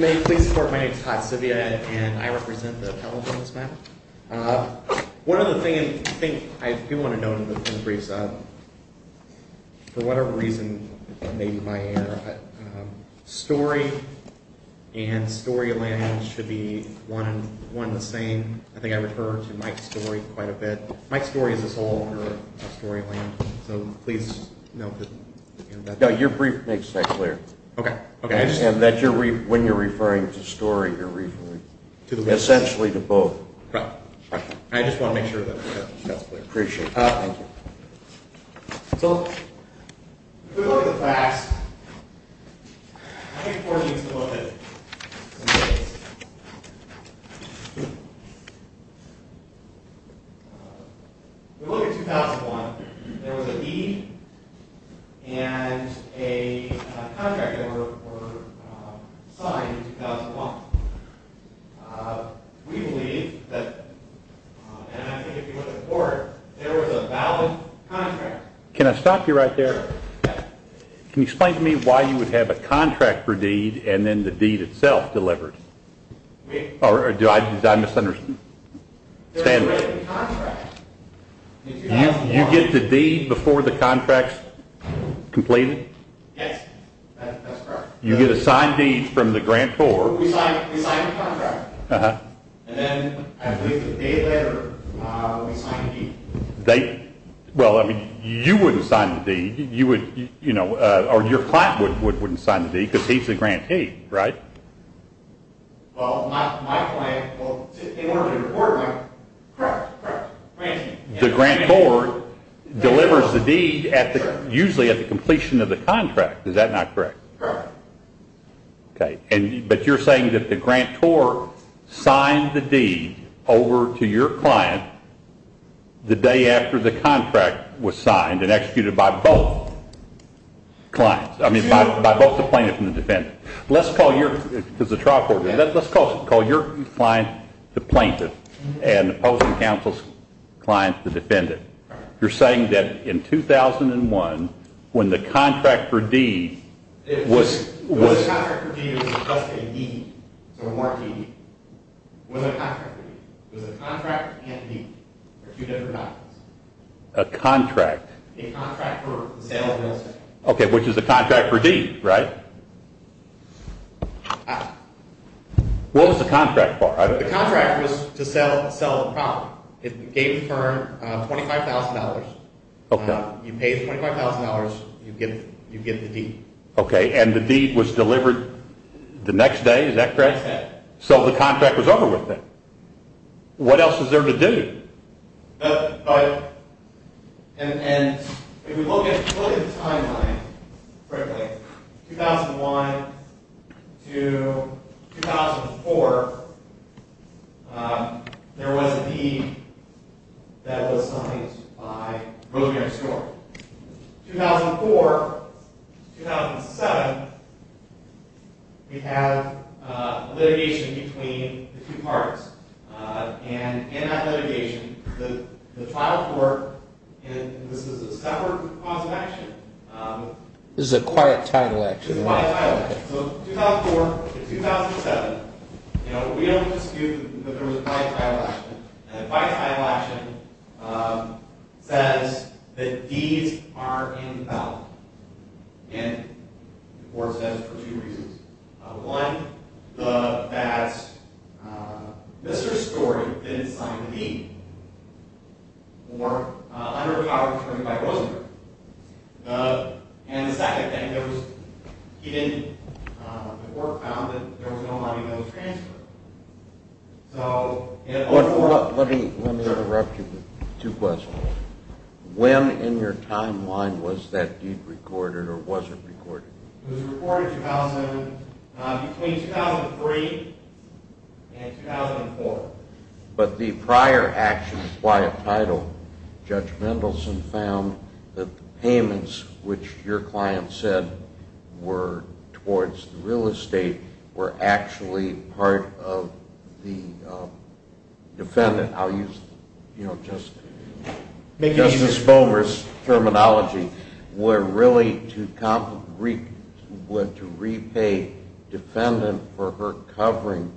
May you please support my name is Todd Sivia and I represent the California SMAP. One other thing I do want to note in the briefs, for whatever reason, maybe my air, Storey and Storeyland should be one and the same. I think I refer to Mike Storey quite a bit. Mike Storey is the sole owner of Storeyland so please note that. Your brief makes that clear. When you're referring to Storey you're referring essentially to both. I just want to make sure that that's clear. If we look at the facts, we look at 2001. There was an E and a contract that was signed in 2001. We believe that, and I think if you look at the board, there was a valid contract. Can I stop you right there? Sure. Can you explain to me why you would have a contract for deed and then the deed itself delivered? We Or did I misunderstand? There was a written contract. You get the deed before the contract's completed? Yes, that's correct. You get a signed deed from the grantor. We sign the contract and then I believe the day later we sign the deed. Well, you wouldn't sign the deed or your client wouldn't sign the deed because he's the grantee, right? Well, my client, in order to report, correct, correct, grantee. The grantor delivers the deed usually at the completion of the contract. Is that not correct? Correct. Okay. But you're saying that the grantor signed the deed over to your client the day after the contract was signed and executed by both clients, I mean by both the plaintiff and the defendant. Let's call your client the plaintiff and opposing counsel's client the defendant. You're saying that in 2001 when the contract for deed was When the contract for deed was just a deed, so a marked deed, when the contract for deed was a contract and deed, they're two different documents. A contract. A contract for the sale of real estate. Okay, which is a contract for deed, right? What was the contract for? The contract was to sell the property. It gave the firm $25,000. Okay. You pay the $25,000, you get the deed. Okay, and the deed was delivered the next day, is that correct? Next day. So the contract was over with then. What else is there to do? But, and if you look at the timeline, frankly, 2001 to 2004, there was a deed that was signed by Rosemary Stewart. 2004 to 2007, we have litigation between the two parties. And in that litigation, the trial court, and this is a separate cause of action. This is a quiet title action. This is a quiet title action. So 2004 to 2007, you know, we don't dispute that there was a quiet title action. And the quiet title action says that deeds are invalid. And the court says for two reasons. One, the bads, Mr. Stewart, didn't sign the deed. Or under the power of attorney by Rosemary. And the second thing, there was, he didn't, the court found that there was no money that was transferred. So. Let me interrupt you with two questions. When in your timeline was that deed recorded or was it recorded? It was recorded 2007, between 2003 and 2004. But the prior action, the quiet title, Judge Mendelson found that the payments, which your client said were towards the real estate, were actually part of the defendant. I'll use, you know, Justice Bomer's terminology. Were really to repay defendant for her covering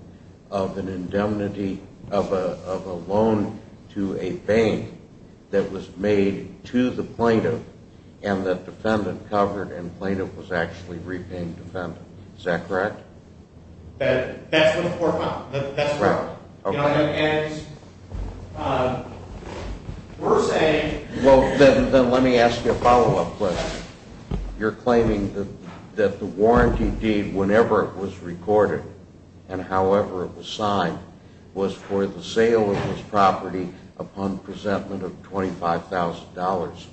of an indemnity of a loan to a bank that was made to the plaintiff. And the defendant covered and plaintiff was actually repaying defendant. Is that correct? That's what the court found. Right. And we're saying. Well, then let me ask you a follow-up question. You're claiming that the warranty deed, whenever it was recorded and however it was signed, was for the sale of this property upon presentment of $25,000.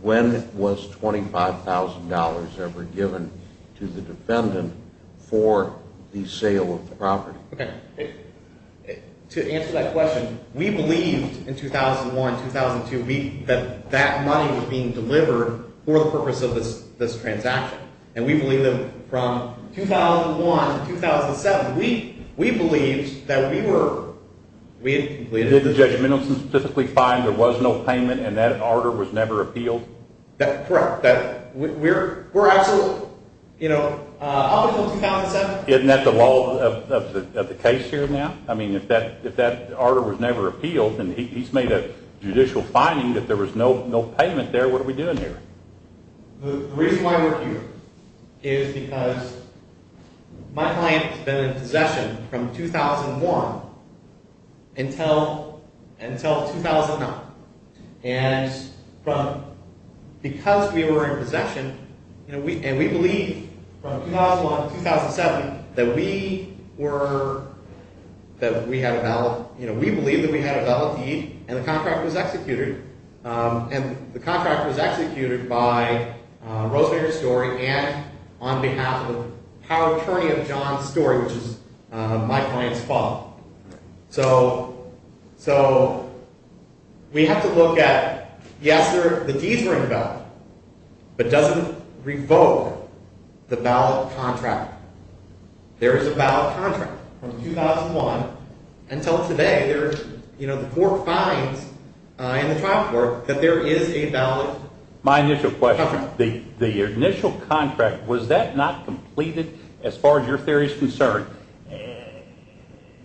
When was $25,000 ever given to the defendant for the sale of the property? To answer that question, we believed in 2001, 2002, that that money was being delivered for the purpose of this transaction. And we believe that from 2001 to 2007, we believed that we were. Did Judge Mendelson specifically find there was no payment and that order was never appealed? That's correct. We're absolutely, you know, up until 2007. Isn't that the law of the case here now? I mean, if that order was never appealed and he's made a judicial finding that there was no payment there, what are we doing here? The reason why we're here is because my client has been in possession from 2001 until 2009. And because we were in possession and we believed from 2001 to 2007 that we were, that we had a valid. You know, we believed that we had a valid deed and the contract was executed. And the contract was executed by Rosemary Story and on behalf of the power attorney of John Story, which is my client's father. So, we have to look at, yes, the deeds were in the ballot, but does it revoke the ballot contract? There is a ballot contract from 2001 until today. You know, the court finds in the trial court that there is a valid contract. My initial question, the initial contract, was that not completed as far as your theory is concerned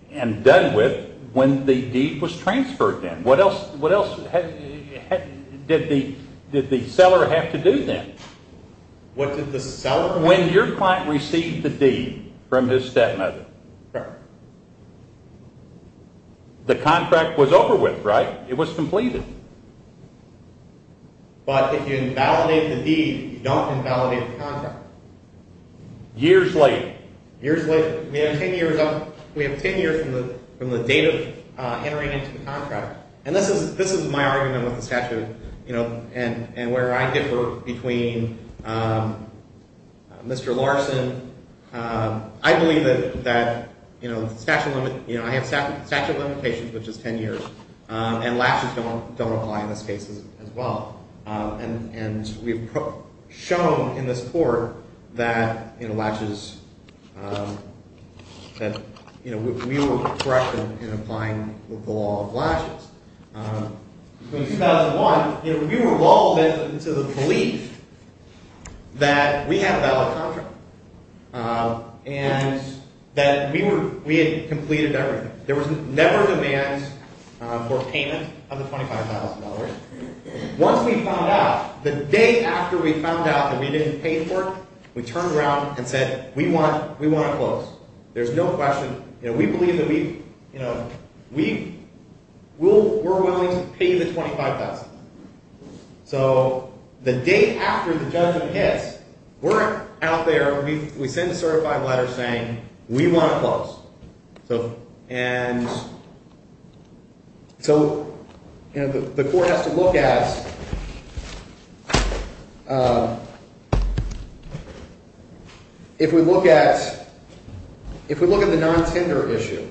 and done with when the deed was transferred then? What else did the seller have to do then? What did the seller have to do? When your client received the deed from his stepmother, the contract was over with, right? It was completed. But if you invalidate the deed, you don't invalidate the contract. Years later. Years later. We have ten years from the date of entering into the contract. And this is my argument with the statute, you know, and where I differ between Mr. Larson. I believe that, you know, I have statute of limitations, which is ten years, and latches don't apply in this case as well. And we've shown in this court that, you know, latches – that, you know, we were correct in applying the law of latches. In 2001, you know, we were lulled into the belief that we had a valid contract and that we were – we had completed everything. There was never demand for payment of the $25,000. Once we found out, the day after we found out that we didn't pay for it, we turned around and said, we want to close. There's no question. You know, we believe that we, you know, we will – we're willing to pay the $25,000. So the day after the judgment hits, we're out there. We send a certified letter saying we want to close. And so, you know, the court has to look at – if we look at – if we look at the non-tender issue,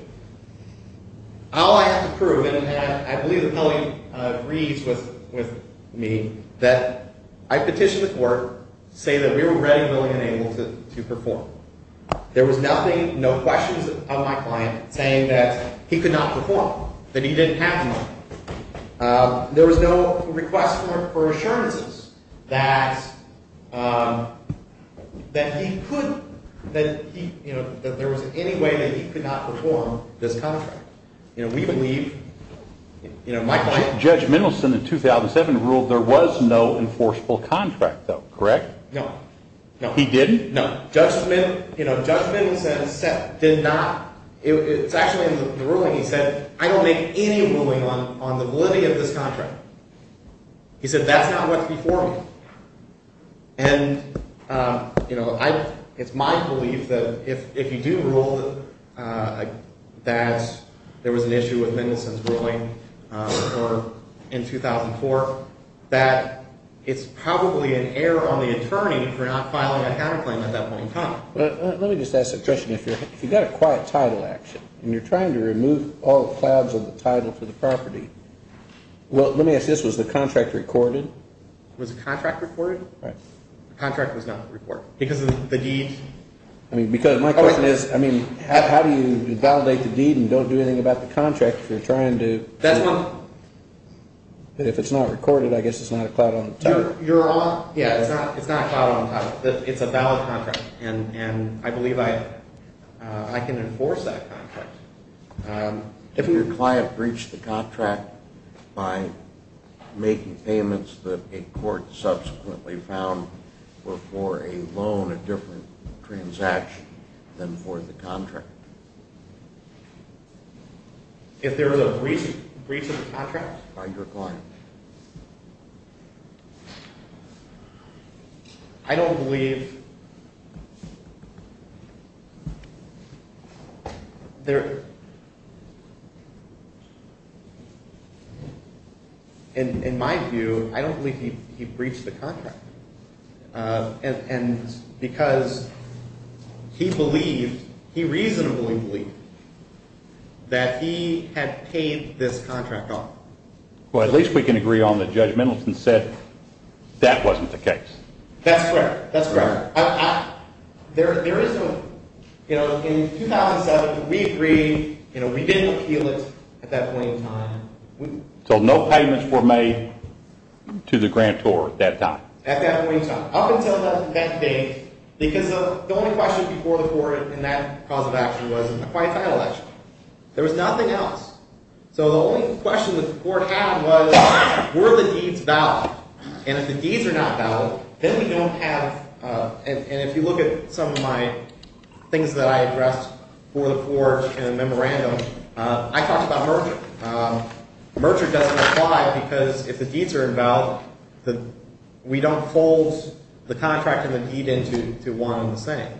all I have to prove, and I believe that Kelly agrees with me, that I petitioned the court to say that we were ready, willing, and able to perform. There was nothing – no questions of my client saying that he could not perform, that he didn't have money. There was no request for assurances that he could – that he, you know, that there was any way that he could not perform this contract. You know, we believe – you know, my client – Judge Mendelson in 2007 ruled there was no enforceable contract, though, correct? No, no. He didn't? No. Judge Mendelson did not – it's actually in the ruling. He said, I don't make any ruling on the validity of this contract. He said, that's not what's before me. And, you know, it's my belief that if you do rule that there was an issue with Mendelson's ruling in 2004, that it's probably an error on the attorney for not filing a counterclaim at that point in time. Let me just ask a question. If you've got a quiet title action and you're trying to remove all the clouds of the title for the property – well, let me ask this. Was the contract recorded? Was the contract recorded? The contract was not recorded. Because of the deed? I mean, because – my question is, I mean, how do you validate the deed and don't do anything about the contract if you're trying to – That's one – If it's not recorded, I guess it's not a cloud on the title. You're on – yeah, it's not a cloud on the title. It's a valid contract. And I believe I can enforce that contract. If your client breached the contract by making payments that a court subsequently found were for a loan, a different transaction than for the contract. If there was a breach of the contract? By your client. I don't believe there – in my view, I don't believe he breached the contract. And because he believed – he reasonably believed that he had paid this contract off. Well, at least we can agree on the judgmentals and said that wasn't the case. That's correct. That's correct. There is no – you know, in 2007, we agreed. You know, we didn't appeal it at that point in time. So no payments were made to the grantor at that time? At that point in time. Up until that date, because the only question before the court in that cause of action was in the client title action. There was nothing else. So the only question that the court had was were the deeds valid? And if the deeds are not valid, then we don't have – and if you look at some of my things that I addressed before the court in the memorandum, I talked about merger. Merger doesn't apply because if the deeds are invalid, we don't fold the contract and the deed into one and the same.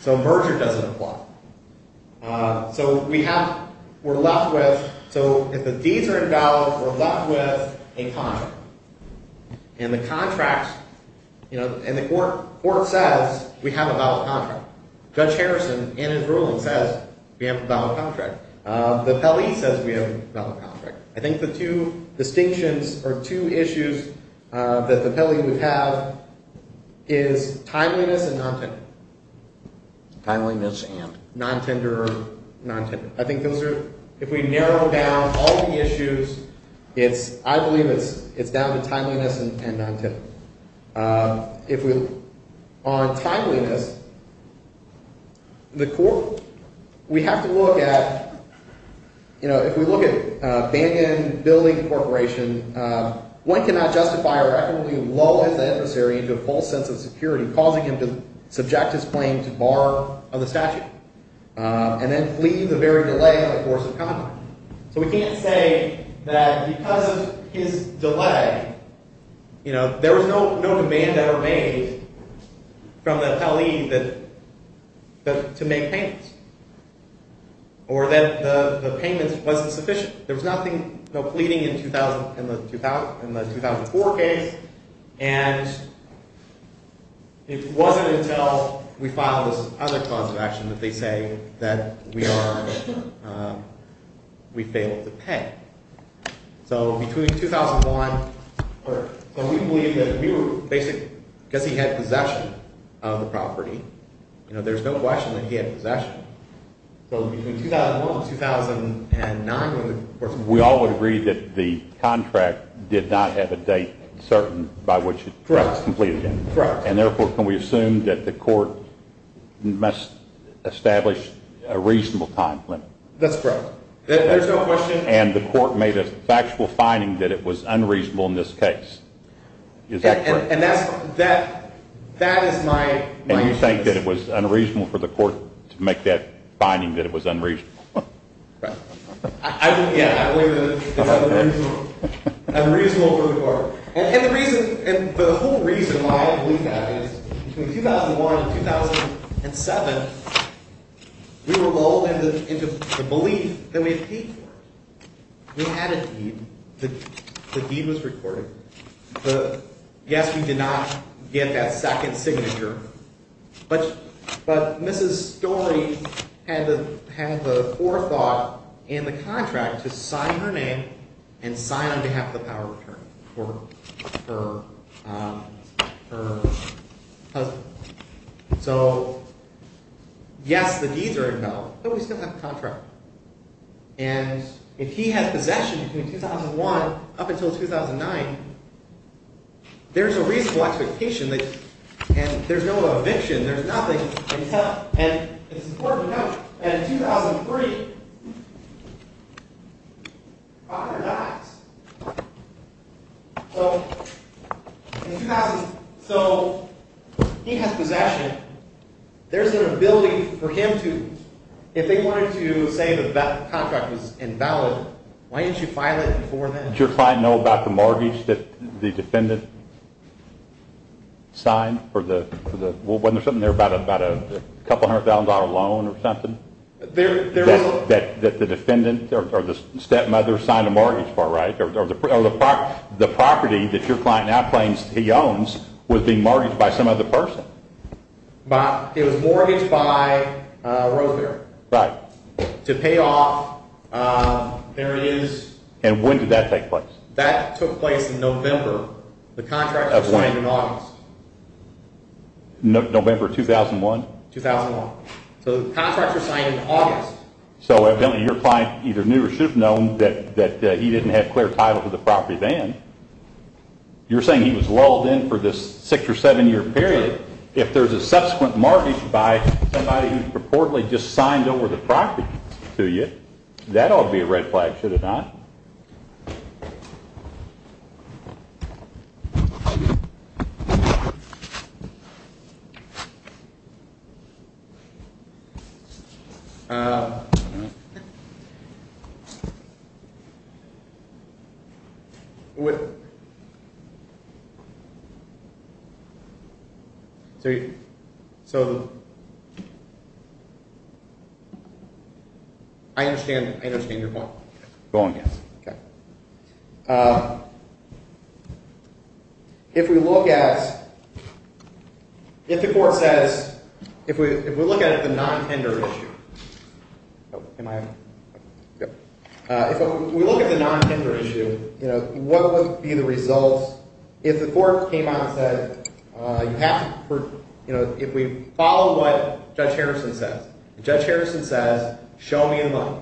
So merger doesn't apply. So we have – we're left with – so if the deeds are invalid, we're left with a contract. And the contracts – you know, and the court says we have a valid contract. Judge Harrison in his ruling says we have a valid contract. The Pelley says we have a valid contract. I think the two distinctions or two issues that the Pelley would have is timeliness and non-timeliness. Timeliness and? Non-tender or non-tender. I think those are – if we narrow down all the issues, it's – I believe it's down to timeliness and non-tender. If we – on timeliness, the court – we have to look at – you know, if we look at Bandon Building Corporation, one cannot justify a recordably low-level adversary into a false sense of security, causing him to subject his claim to bar of the statute and then flee the very delay of a course of conduct. So we can't say that because of his delay, you know, there was no demand ever made from the Pelley that – to make payments or that the payments wasn't sufficient. There was nothing pleading in the 2004 case, and it wasn't until we filed this other clause of action that they say that we are – we failed to pay. So between 2001 – or we believe that we were basically – because he had possession of the property, you know, there's no question that he had possession. So between 2001 and 2009 when the – We all would agree that the contract did not have a date certain by which it was completed. Correct. And therefore, can we assume that the court must establish a reasonable time limit? That's correct. There's no question. And the court made a factual finding that it was unreasonable in this case. Is that correct? And that's – that is my issue. Do you think that it was unreasonable for the court to make that finding that it was unreasonable? I don't – yeah, I believe that it was unreasonable for the court. And the reason – and the whole reason why I believe that is between 2001 and 2007 we were lulled into the belief that we had paid for it. We had a deed. The deed was recorded. Yes, we did not get that second signature, but Mrs. Story had the forethought in the contract to sign her name and sign on behalf of the power of attorney for her husband. So yes, the deeds are invalid, but we still have the contract. And if he has possession between 2001 up until 2009, there's a reasonable expectation that – and there's no eviction. There's nothing. And it's important to note that in 2003, father dies. So in 2000 – so he has possession. There's an ability for him to – if they wanted to say that the contract was invalid, why didn't you file it before then? Did your client know about the mortgage that the defendant signed for the – wasn't there something there about a couple hundred thousand dollar loan or something? That the defendant or the stepmother signed a mortgage for, right? Or the property that your client now claims he owns was being mortgaged by some other person? It was mortgaged by Rowe Fair. Right. To pay off – there it is. And when did that take place? That took place in November. The contract was signed in August. November 2001? 2001. So the contract was signed in August. So evidently your client either knew or should have known that he didn't have clear title to the property then. You're saying he was lulled in for this six or seven year period. If there's a subsequent mortgage by somebody who purportedly just signed over the property to you, that ought to be a red flag, should it not? I don't know. So – I understand your point. Okay. If we look at – if the court says – if we look at the non-tender issue – am I – if we look at the non-tender issue, what would be the results? If the court came out and said you have to – if we follow what Judge Harrison says. And Judge Harrison says, show me the money.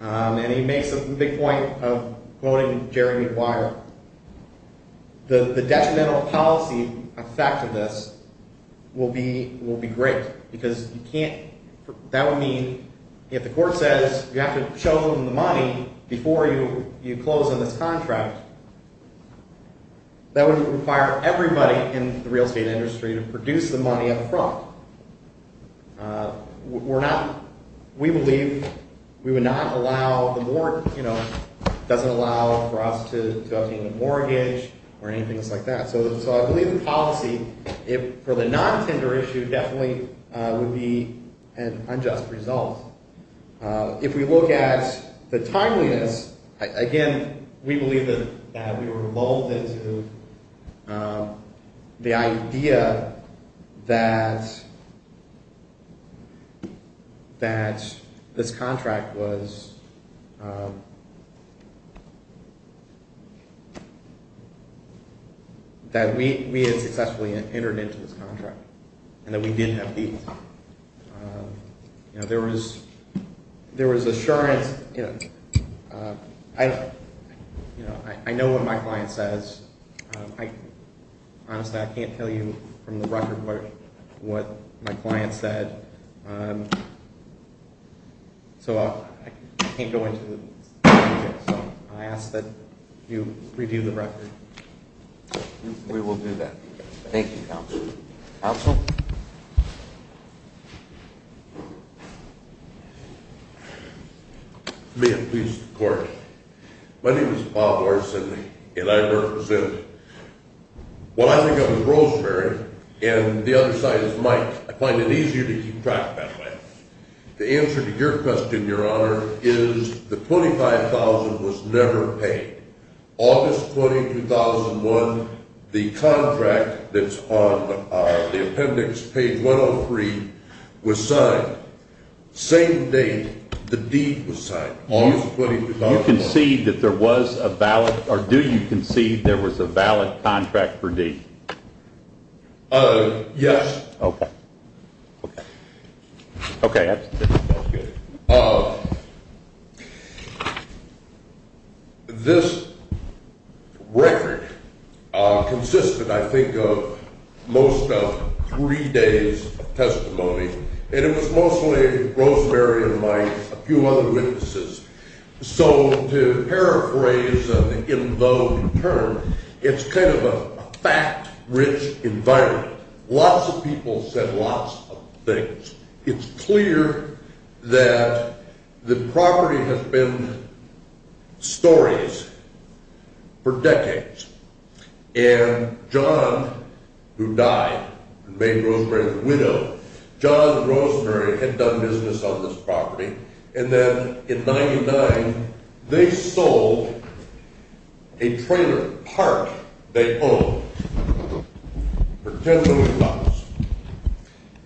And he makes the big point of quoting Jeremy Dwyer. The detrimental policy effect of this will be great because you can't – that would mean if the court says you have to show them the money before you close on this contract, that would require everybody in the real estate industry to produce the money up front. We're not – we believe we would not allow the – doesn't allow for us to obtain the mortgage or anything just like that. So I believe the policy, for the non-tender issue, definitely would be an unjust result. If we look at the timeliness, again, we believe that we were molded to the idea that this contract was – that we had successfully entered into this contract and that we didn't have fees. There was assurance – I know what my client says. Honestly, I can't tell you from the record what my client said. So I can't go into the details. So I ask that you review the record. We will do that. Thank you, counsel. Counsel? May it please the court. My name is Bob Orson, and I represent – well, I think I'm the Rosemary, and the other side is Mike. I find it easier to keep track that way. The answer to your question, Your Honor, is the $25,000 was never paid. August 20, 2001, the contract that's on the appendix, page 103, was signed. Same date the deed was signed, August 20, 2001. Do you concede that there was a valid – or do you concede there was a valid contract for deed? Yes. Okay. Okay, that's good. Okay. This record consisted, I think, of most of three days of testimony, and it was mostly Rosemary and Mike, a few other witnesses. So to paraphrase an in-vogue term, it's kind of a fact-rich environment. Lots of people said lots of things. It's clear that the property has been stories for decades, and John, who died and made Rosemary the widow, John and Rosemary had done business on this property, and then in 99, they sold a trailer park they owned for $10 million.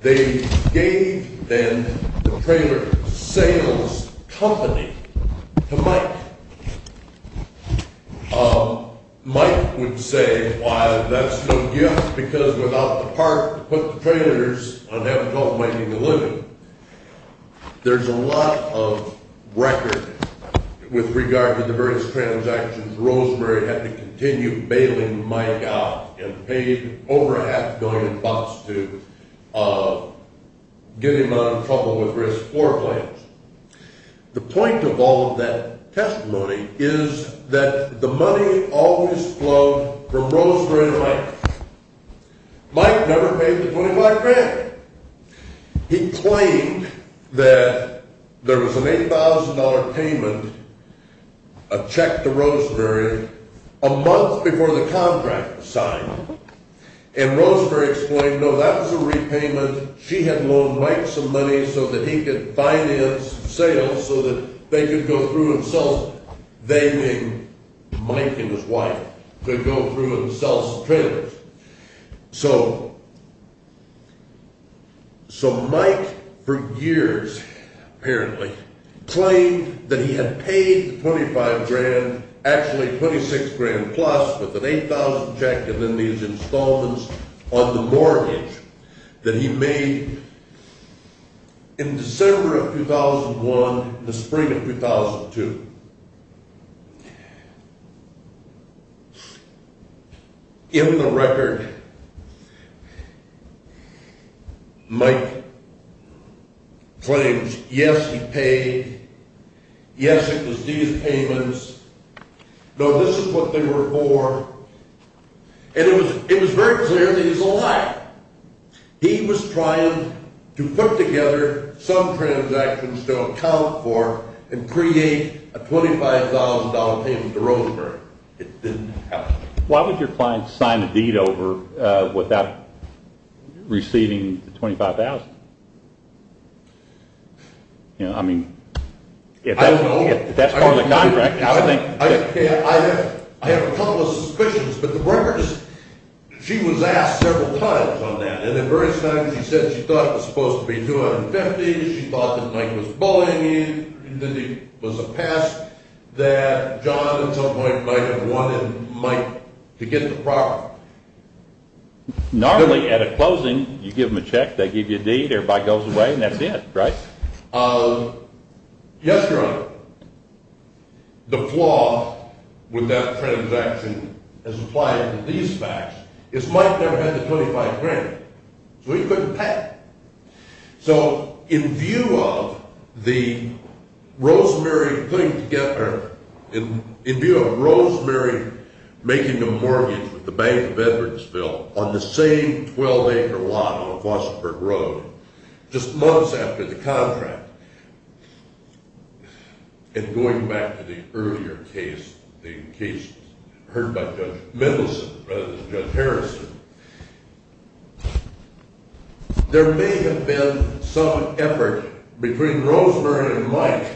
They gave then the trailer sales company to Mike. Mike would say, well, that's no gift, because without the park to put the trailers on, they haven't called Mike in to live in. There's a lot of record with regard to the various transactions. Rosemary had to continue bailing Mike out and paid over half a billion bucks to get him out of trouble with risk floor plans. The point of all of that testimony is that the money always flowed from Rosemary and Mike. Mike never paid the $25,000. He claimed that there was an $8,000 payment, a check to Rosemary, a month before the contract was signed, and Rosemary explained, no, that was a repayment. She had loaned Mike some money so that he could finance sales so that they could go through and sell. They, meaning Mike and his wife, could go through and sell some trailers. So Mike, for years, apparently, claimed that he had paid the $25,000, actually $26,000 plus with an $8,000 check, and then these installments on the mortgage that he made in December of 2001 and the spring of 2002. In the record, Mike claims, yes, he paid, yes, it was these payments, no, this is what they were for, and it was very clear that he was a liar. He was trying to put together some transactions to account for and create a $25,000 payment to Rosemary. It didn't happen. Why would your client sign a deed over without receiving the $25,000? I mean, if that's part of the contract, I think… I have a couple of suspicions, but the records, she was asked several times on that, and at various times she said she thought it was supposed to be $250,000, she thought that Mike was bullying him, that he was a pest, that John at some point might have wanted Mike to get the property. Normally, at a closing, you give them a check, they give you a deed, everybody goes away, and that's it, right? Yes, Your Honor, the flaw with that transaction as applied to these facts is Mike never had the $25,000, so he couldn't pay. So, in view of the Rosemary putting together, in view of Rosemary making a mortgage with the Bank of Edwardsville on the same 12-acre lot on Fosterburg Road, just months after the contract, and going back to the earlier case, the case heard by Judge Mendelson rather than Judge Harrison, there may have been some effort between Rosemary and Mike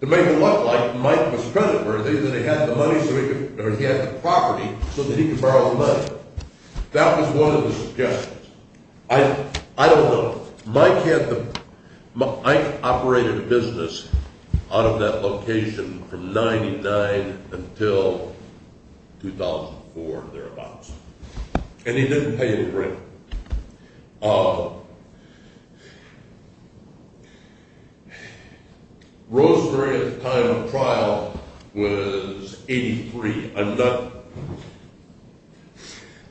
to make it look like Mike was creditworthy, that he had the property so that he could borrow the money. That was one of the suggestions. I don't know. Mike operated a business out of that location from 1999 until 2004, thereabouts, and he didn't pay a rent. Rosemary, at the time of trial, was 83. I'm not…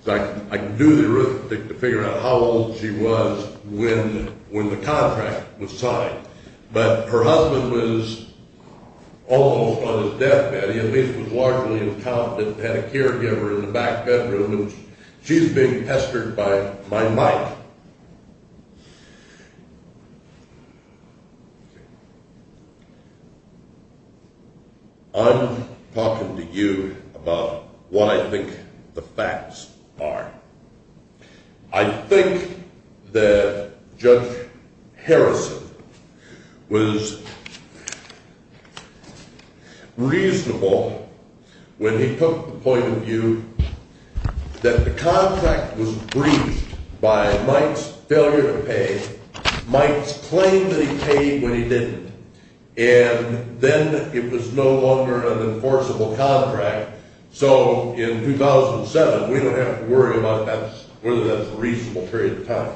I can do the arithmetic to figure out how old she was when the contract was signed, but her husband was almost on his deathbed. He at least was largely an accountant and had a caregiver in the back bedroom. She's being pestered by Mike. I'm talking to you about what I think the facts are. I think that Judge Harrison was reasonable when he took the point of view that the contract was breached by Mike's failure to pay. Mike's claim that he paid when he didn't, and then it was no longer an enforceable contract. So in 2007, we don't have to worry about whether that's a reasonable period of time.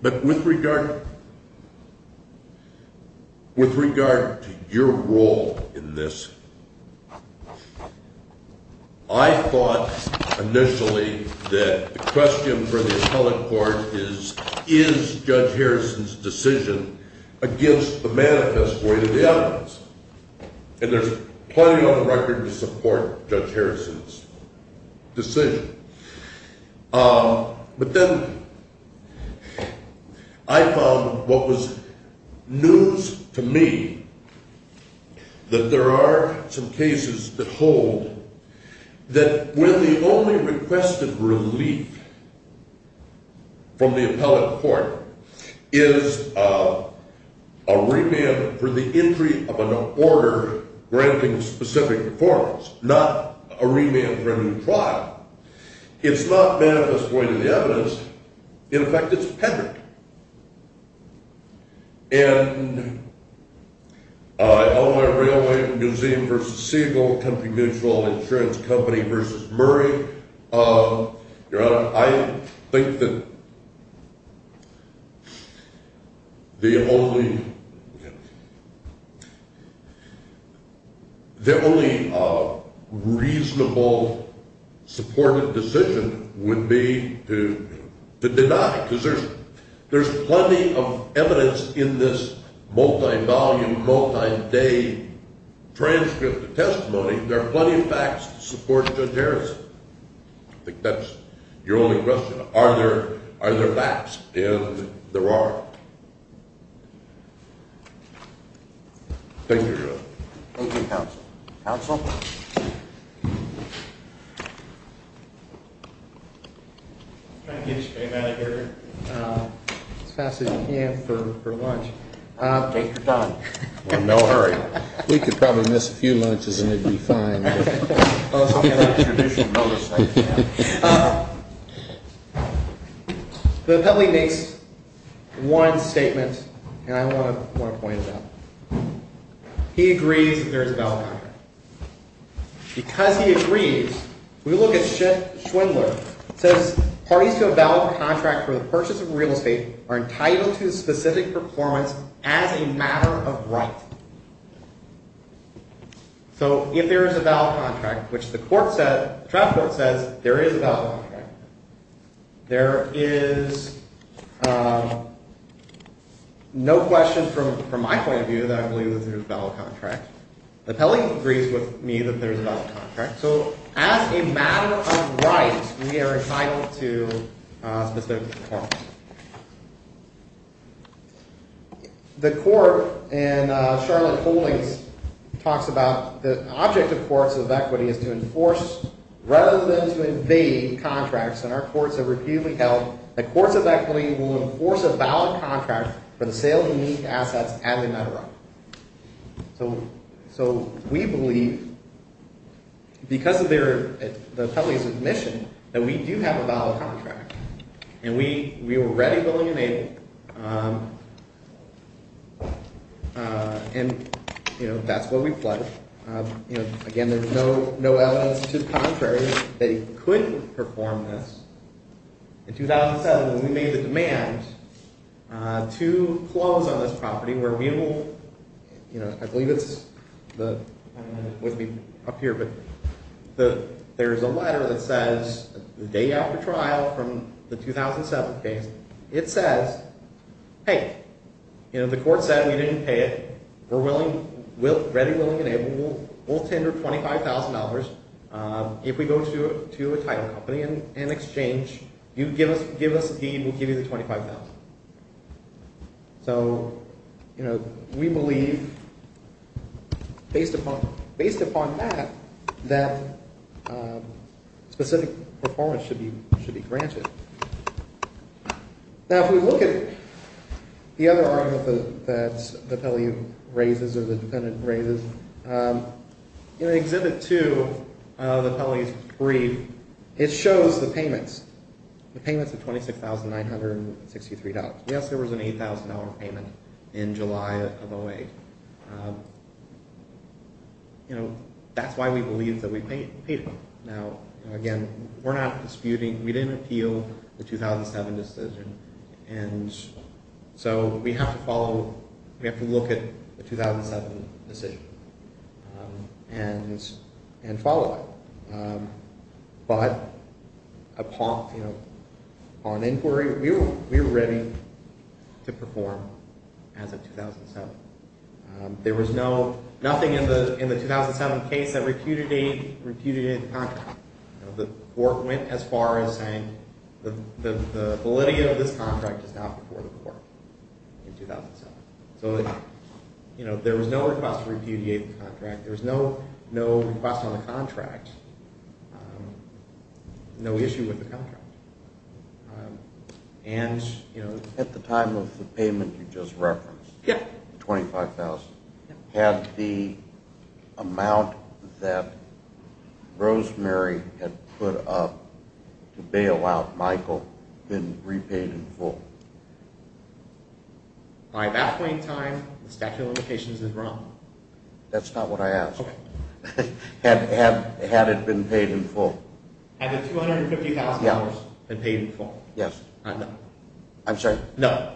But with regard to your role in this, I thought initially that the question for the appellate court is, is Judge Harrison's decision against the manifest way to the evidence? And there's plenty on the record to support Judge Harrison's decision. But then I found what was news to me that there are some cases that hold that when the only requested relief from the appellate court is a remand for the entry of an order granting specific performance, not a remand for a new trial. It's not manifest way to the evidence. In effect, it's a peddler. In Illinois Railway Museum v. Siegel, Country Mutual Insurance Company v. Murray, Your Honor, I think that the only reasonable supported decision would be to deny. Because there's plenty of evidence in this multi-volume, multi-day transcript of testimony. There are plenty of facts to support Judge Harrison. I think that's your only question. Are there facts? And there are. Thank you, Your Honor. Thank you, Counsel. Counsel? Trying to get your name out of here as fast as you can for lunch. Take your time. We're in no hurry. We could probably miss a few lunches and it would be fine. The appellate makes one statement, and I want to point it out. He agrees there's a valid contract. Because he agrees, we look at Schwindler. It says parties to a valid contract for the purchase of real estate are entitled to specific performance as a matter of right. So if there is a valid contract, which the court said, the trial court says there is a valid contract. There is no question from my point of view that I believe there's a valid contract. The appellate agrees with me that there's a valid contract. So as a matter of right, we are entitled to specific performance. The court in Charlotte Holdings talks about the object of courts of equity is to enforce rather than to invade contracts. And our courts have repeatedly held that courts of equity will enforce a valid contract for the sale of unique assets as a matter of right. So we believe because of the appellate's admission that we do have a valid contract. And we were ready, willing, and able. And that's what we pledged. Again, there's no evidence to the contrary that he couldn't perform this. In 2007, when we made the demand to close on this property where we will, you know, I believe it's up here. But there's a letter that says the day after trial from the 2007 case, it says, hey, you know, the court said we didn't pay it. We're ready, willing, and able. We'll tender $25,000. If we go to a title company and exchange, you give us a deed, we'll give you the $25,000. So, you know, we believe based upon that that specific performance should be granted. Now, if we look at the other arm that the Pelley raises or the defendant raises, in Exhibit 2 of the Pelley's brief, it shows the payments, the payments of $26,963. Yes, there was an $8,000 payment in July of 08. You know, that's why we believe that we paid it. Now, again, we're not disputing, we didn't appeal the 2007 decision. And so we have to follow, we have to look at the 2007 decision and follow that. But upon, you know, on inquiry, we were ready to perform as of 2007. There was no, nothing in the 2007 case that repudiated the contract. The court went as far as saying the validity of this contract is not before the court in 2007. So, you know, there was no request to repudiate the contract. There was no request on the contract, no issue with the contract. And, you know... At the time of the payment you just referenced, the $25,000, had the amount that Rosemary had put up to bail out Michael been repaid in full? By that point in time, the statute of limitations is wrong. That's not what I asked. Had it been paid in full? Had the $250,000 been paid in full? Yes. I'm sorry. No.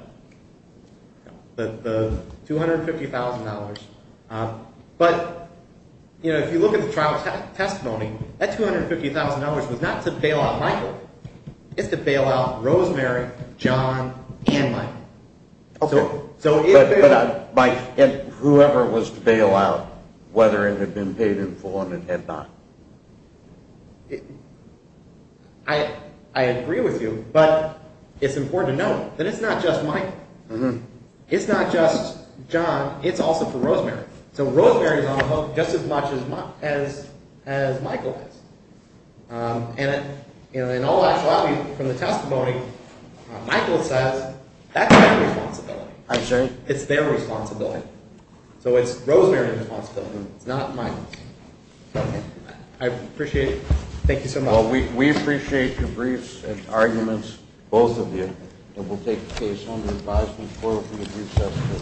The $250,000. But, you know, if you look at the trial testimony, that $250,000 was not to bail out Michael. It's to bail out Rosemary, John, and Michael. Okay. So if... But, Mike, whoever was to bail out, whether it had been paid in full and it had not? I agree with you, but it's important to note that it's not just Michael. It's not just John. It's also for Rosemary. So Rosemary is on the hook just as much as Michael is. And in all actuality, from the testimony, Michael says that's their responsibility. I'm sorry? It's their responsibility. So it's Rosemary's responsibility. It's not Michael's. I appreciate it. Thank you so much. Well, we appreciate your briefs and arguments, both of you. And we'll take the case under advisement forward from the brief testimony.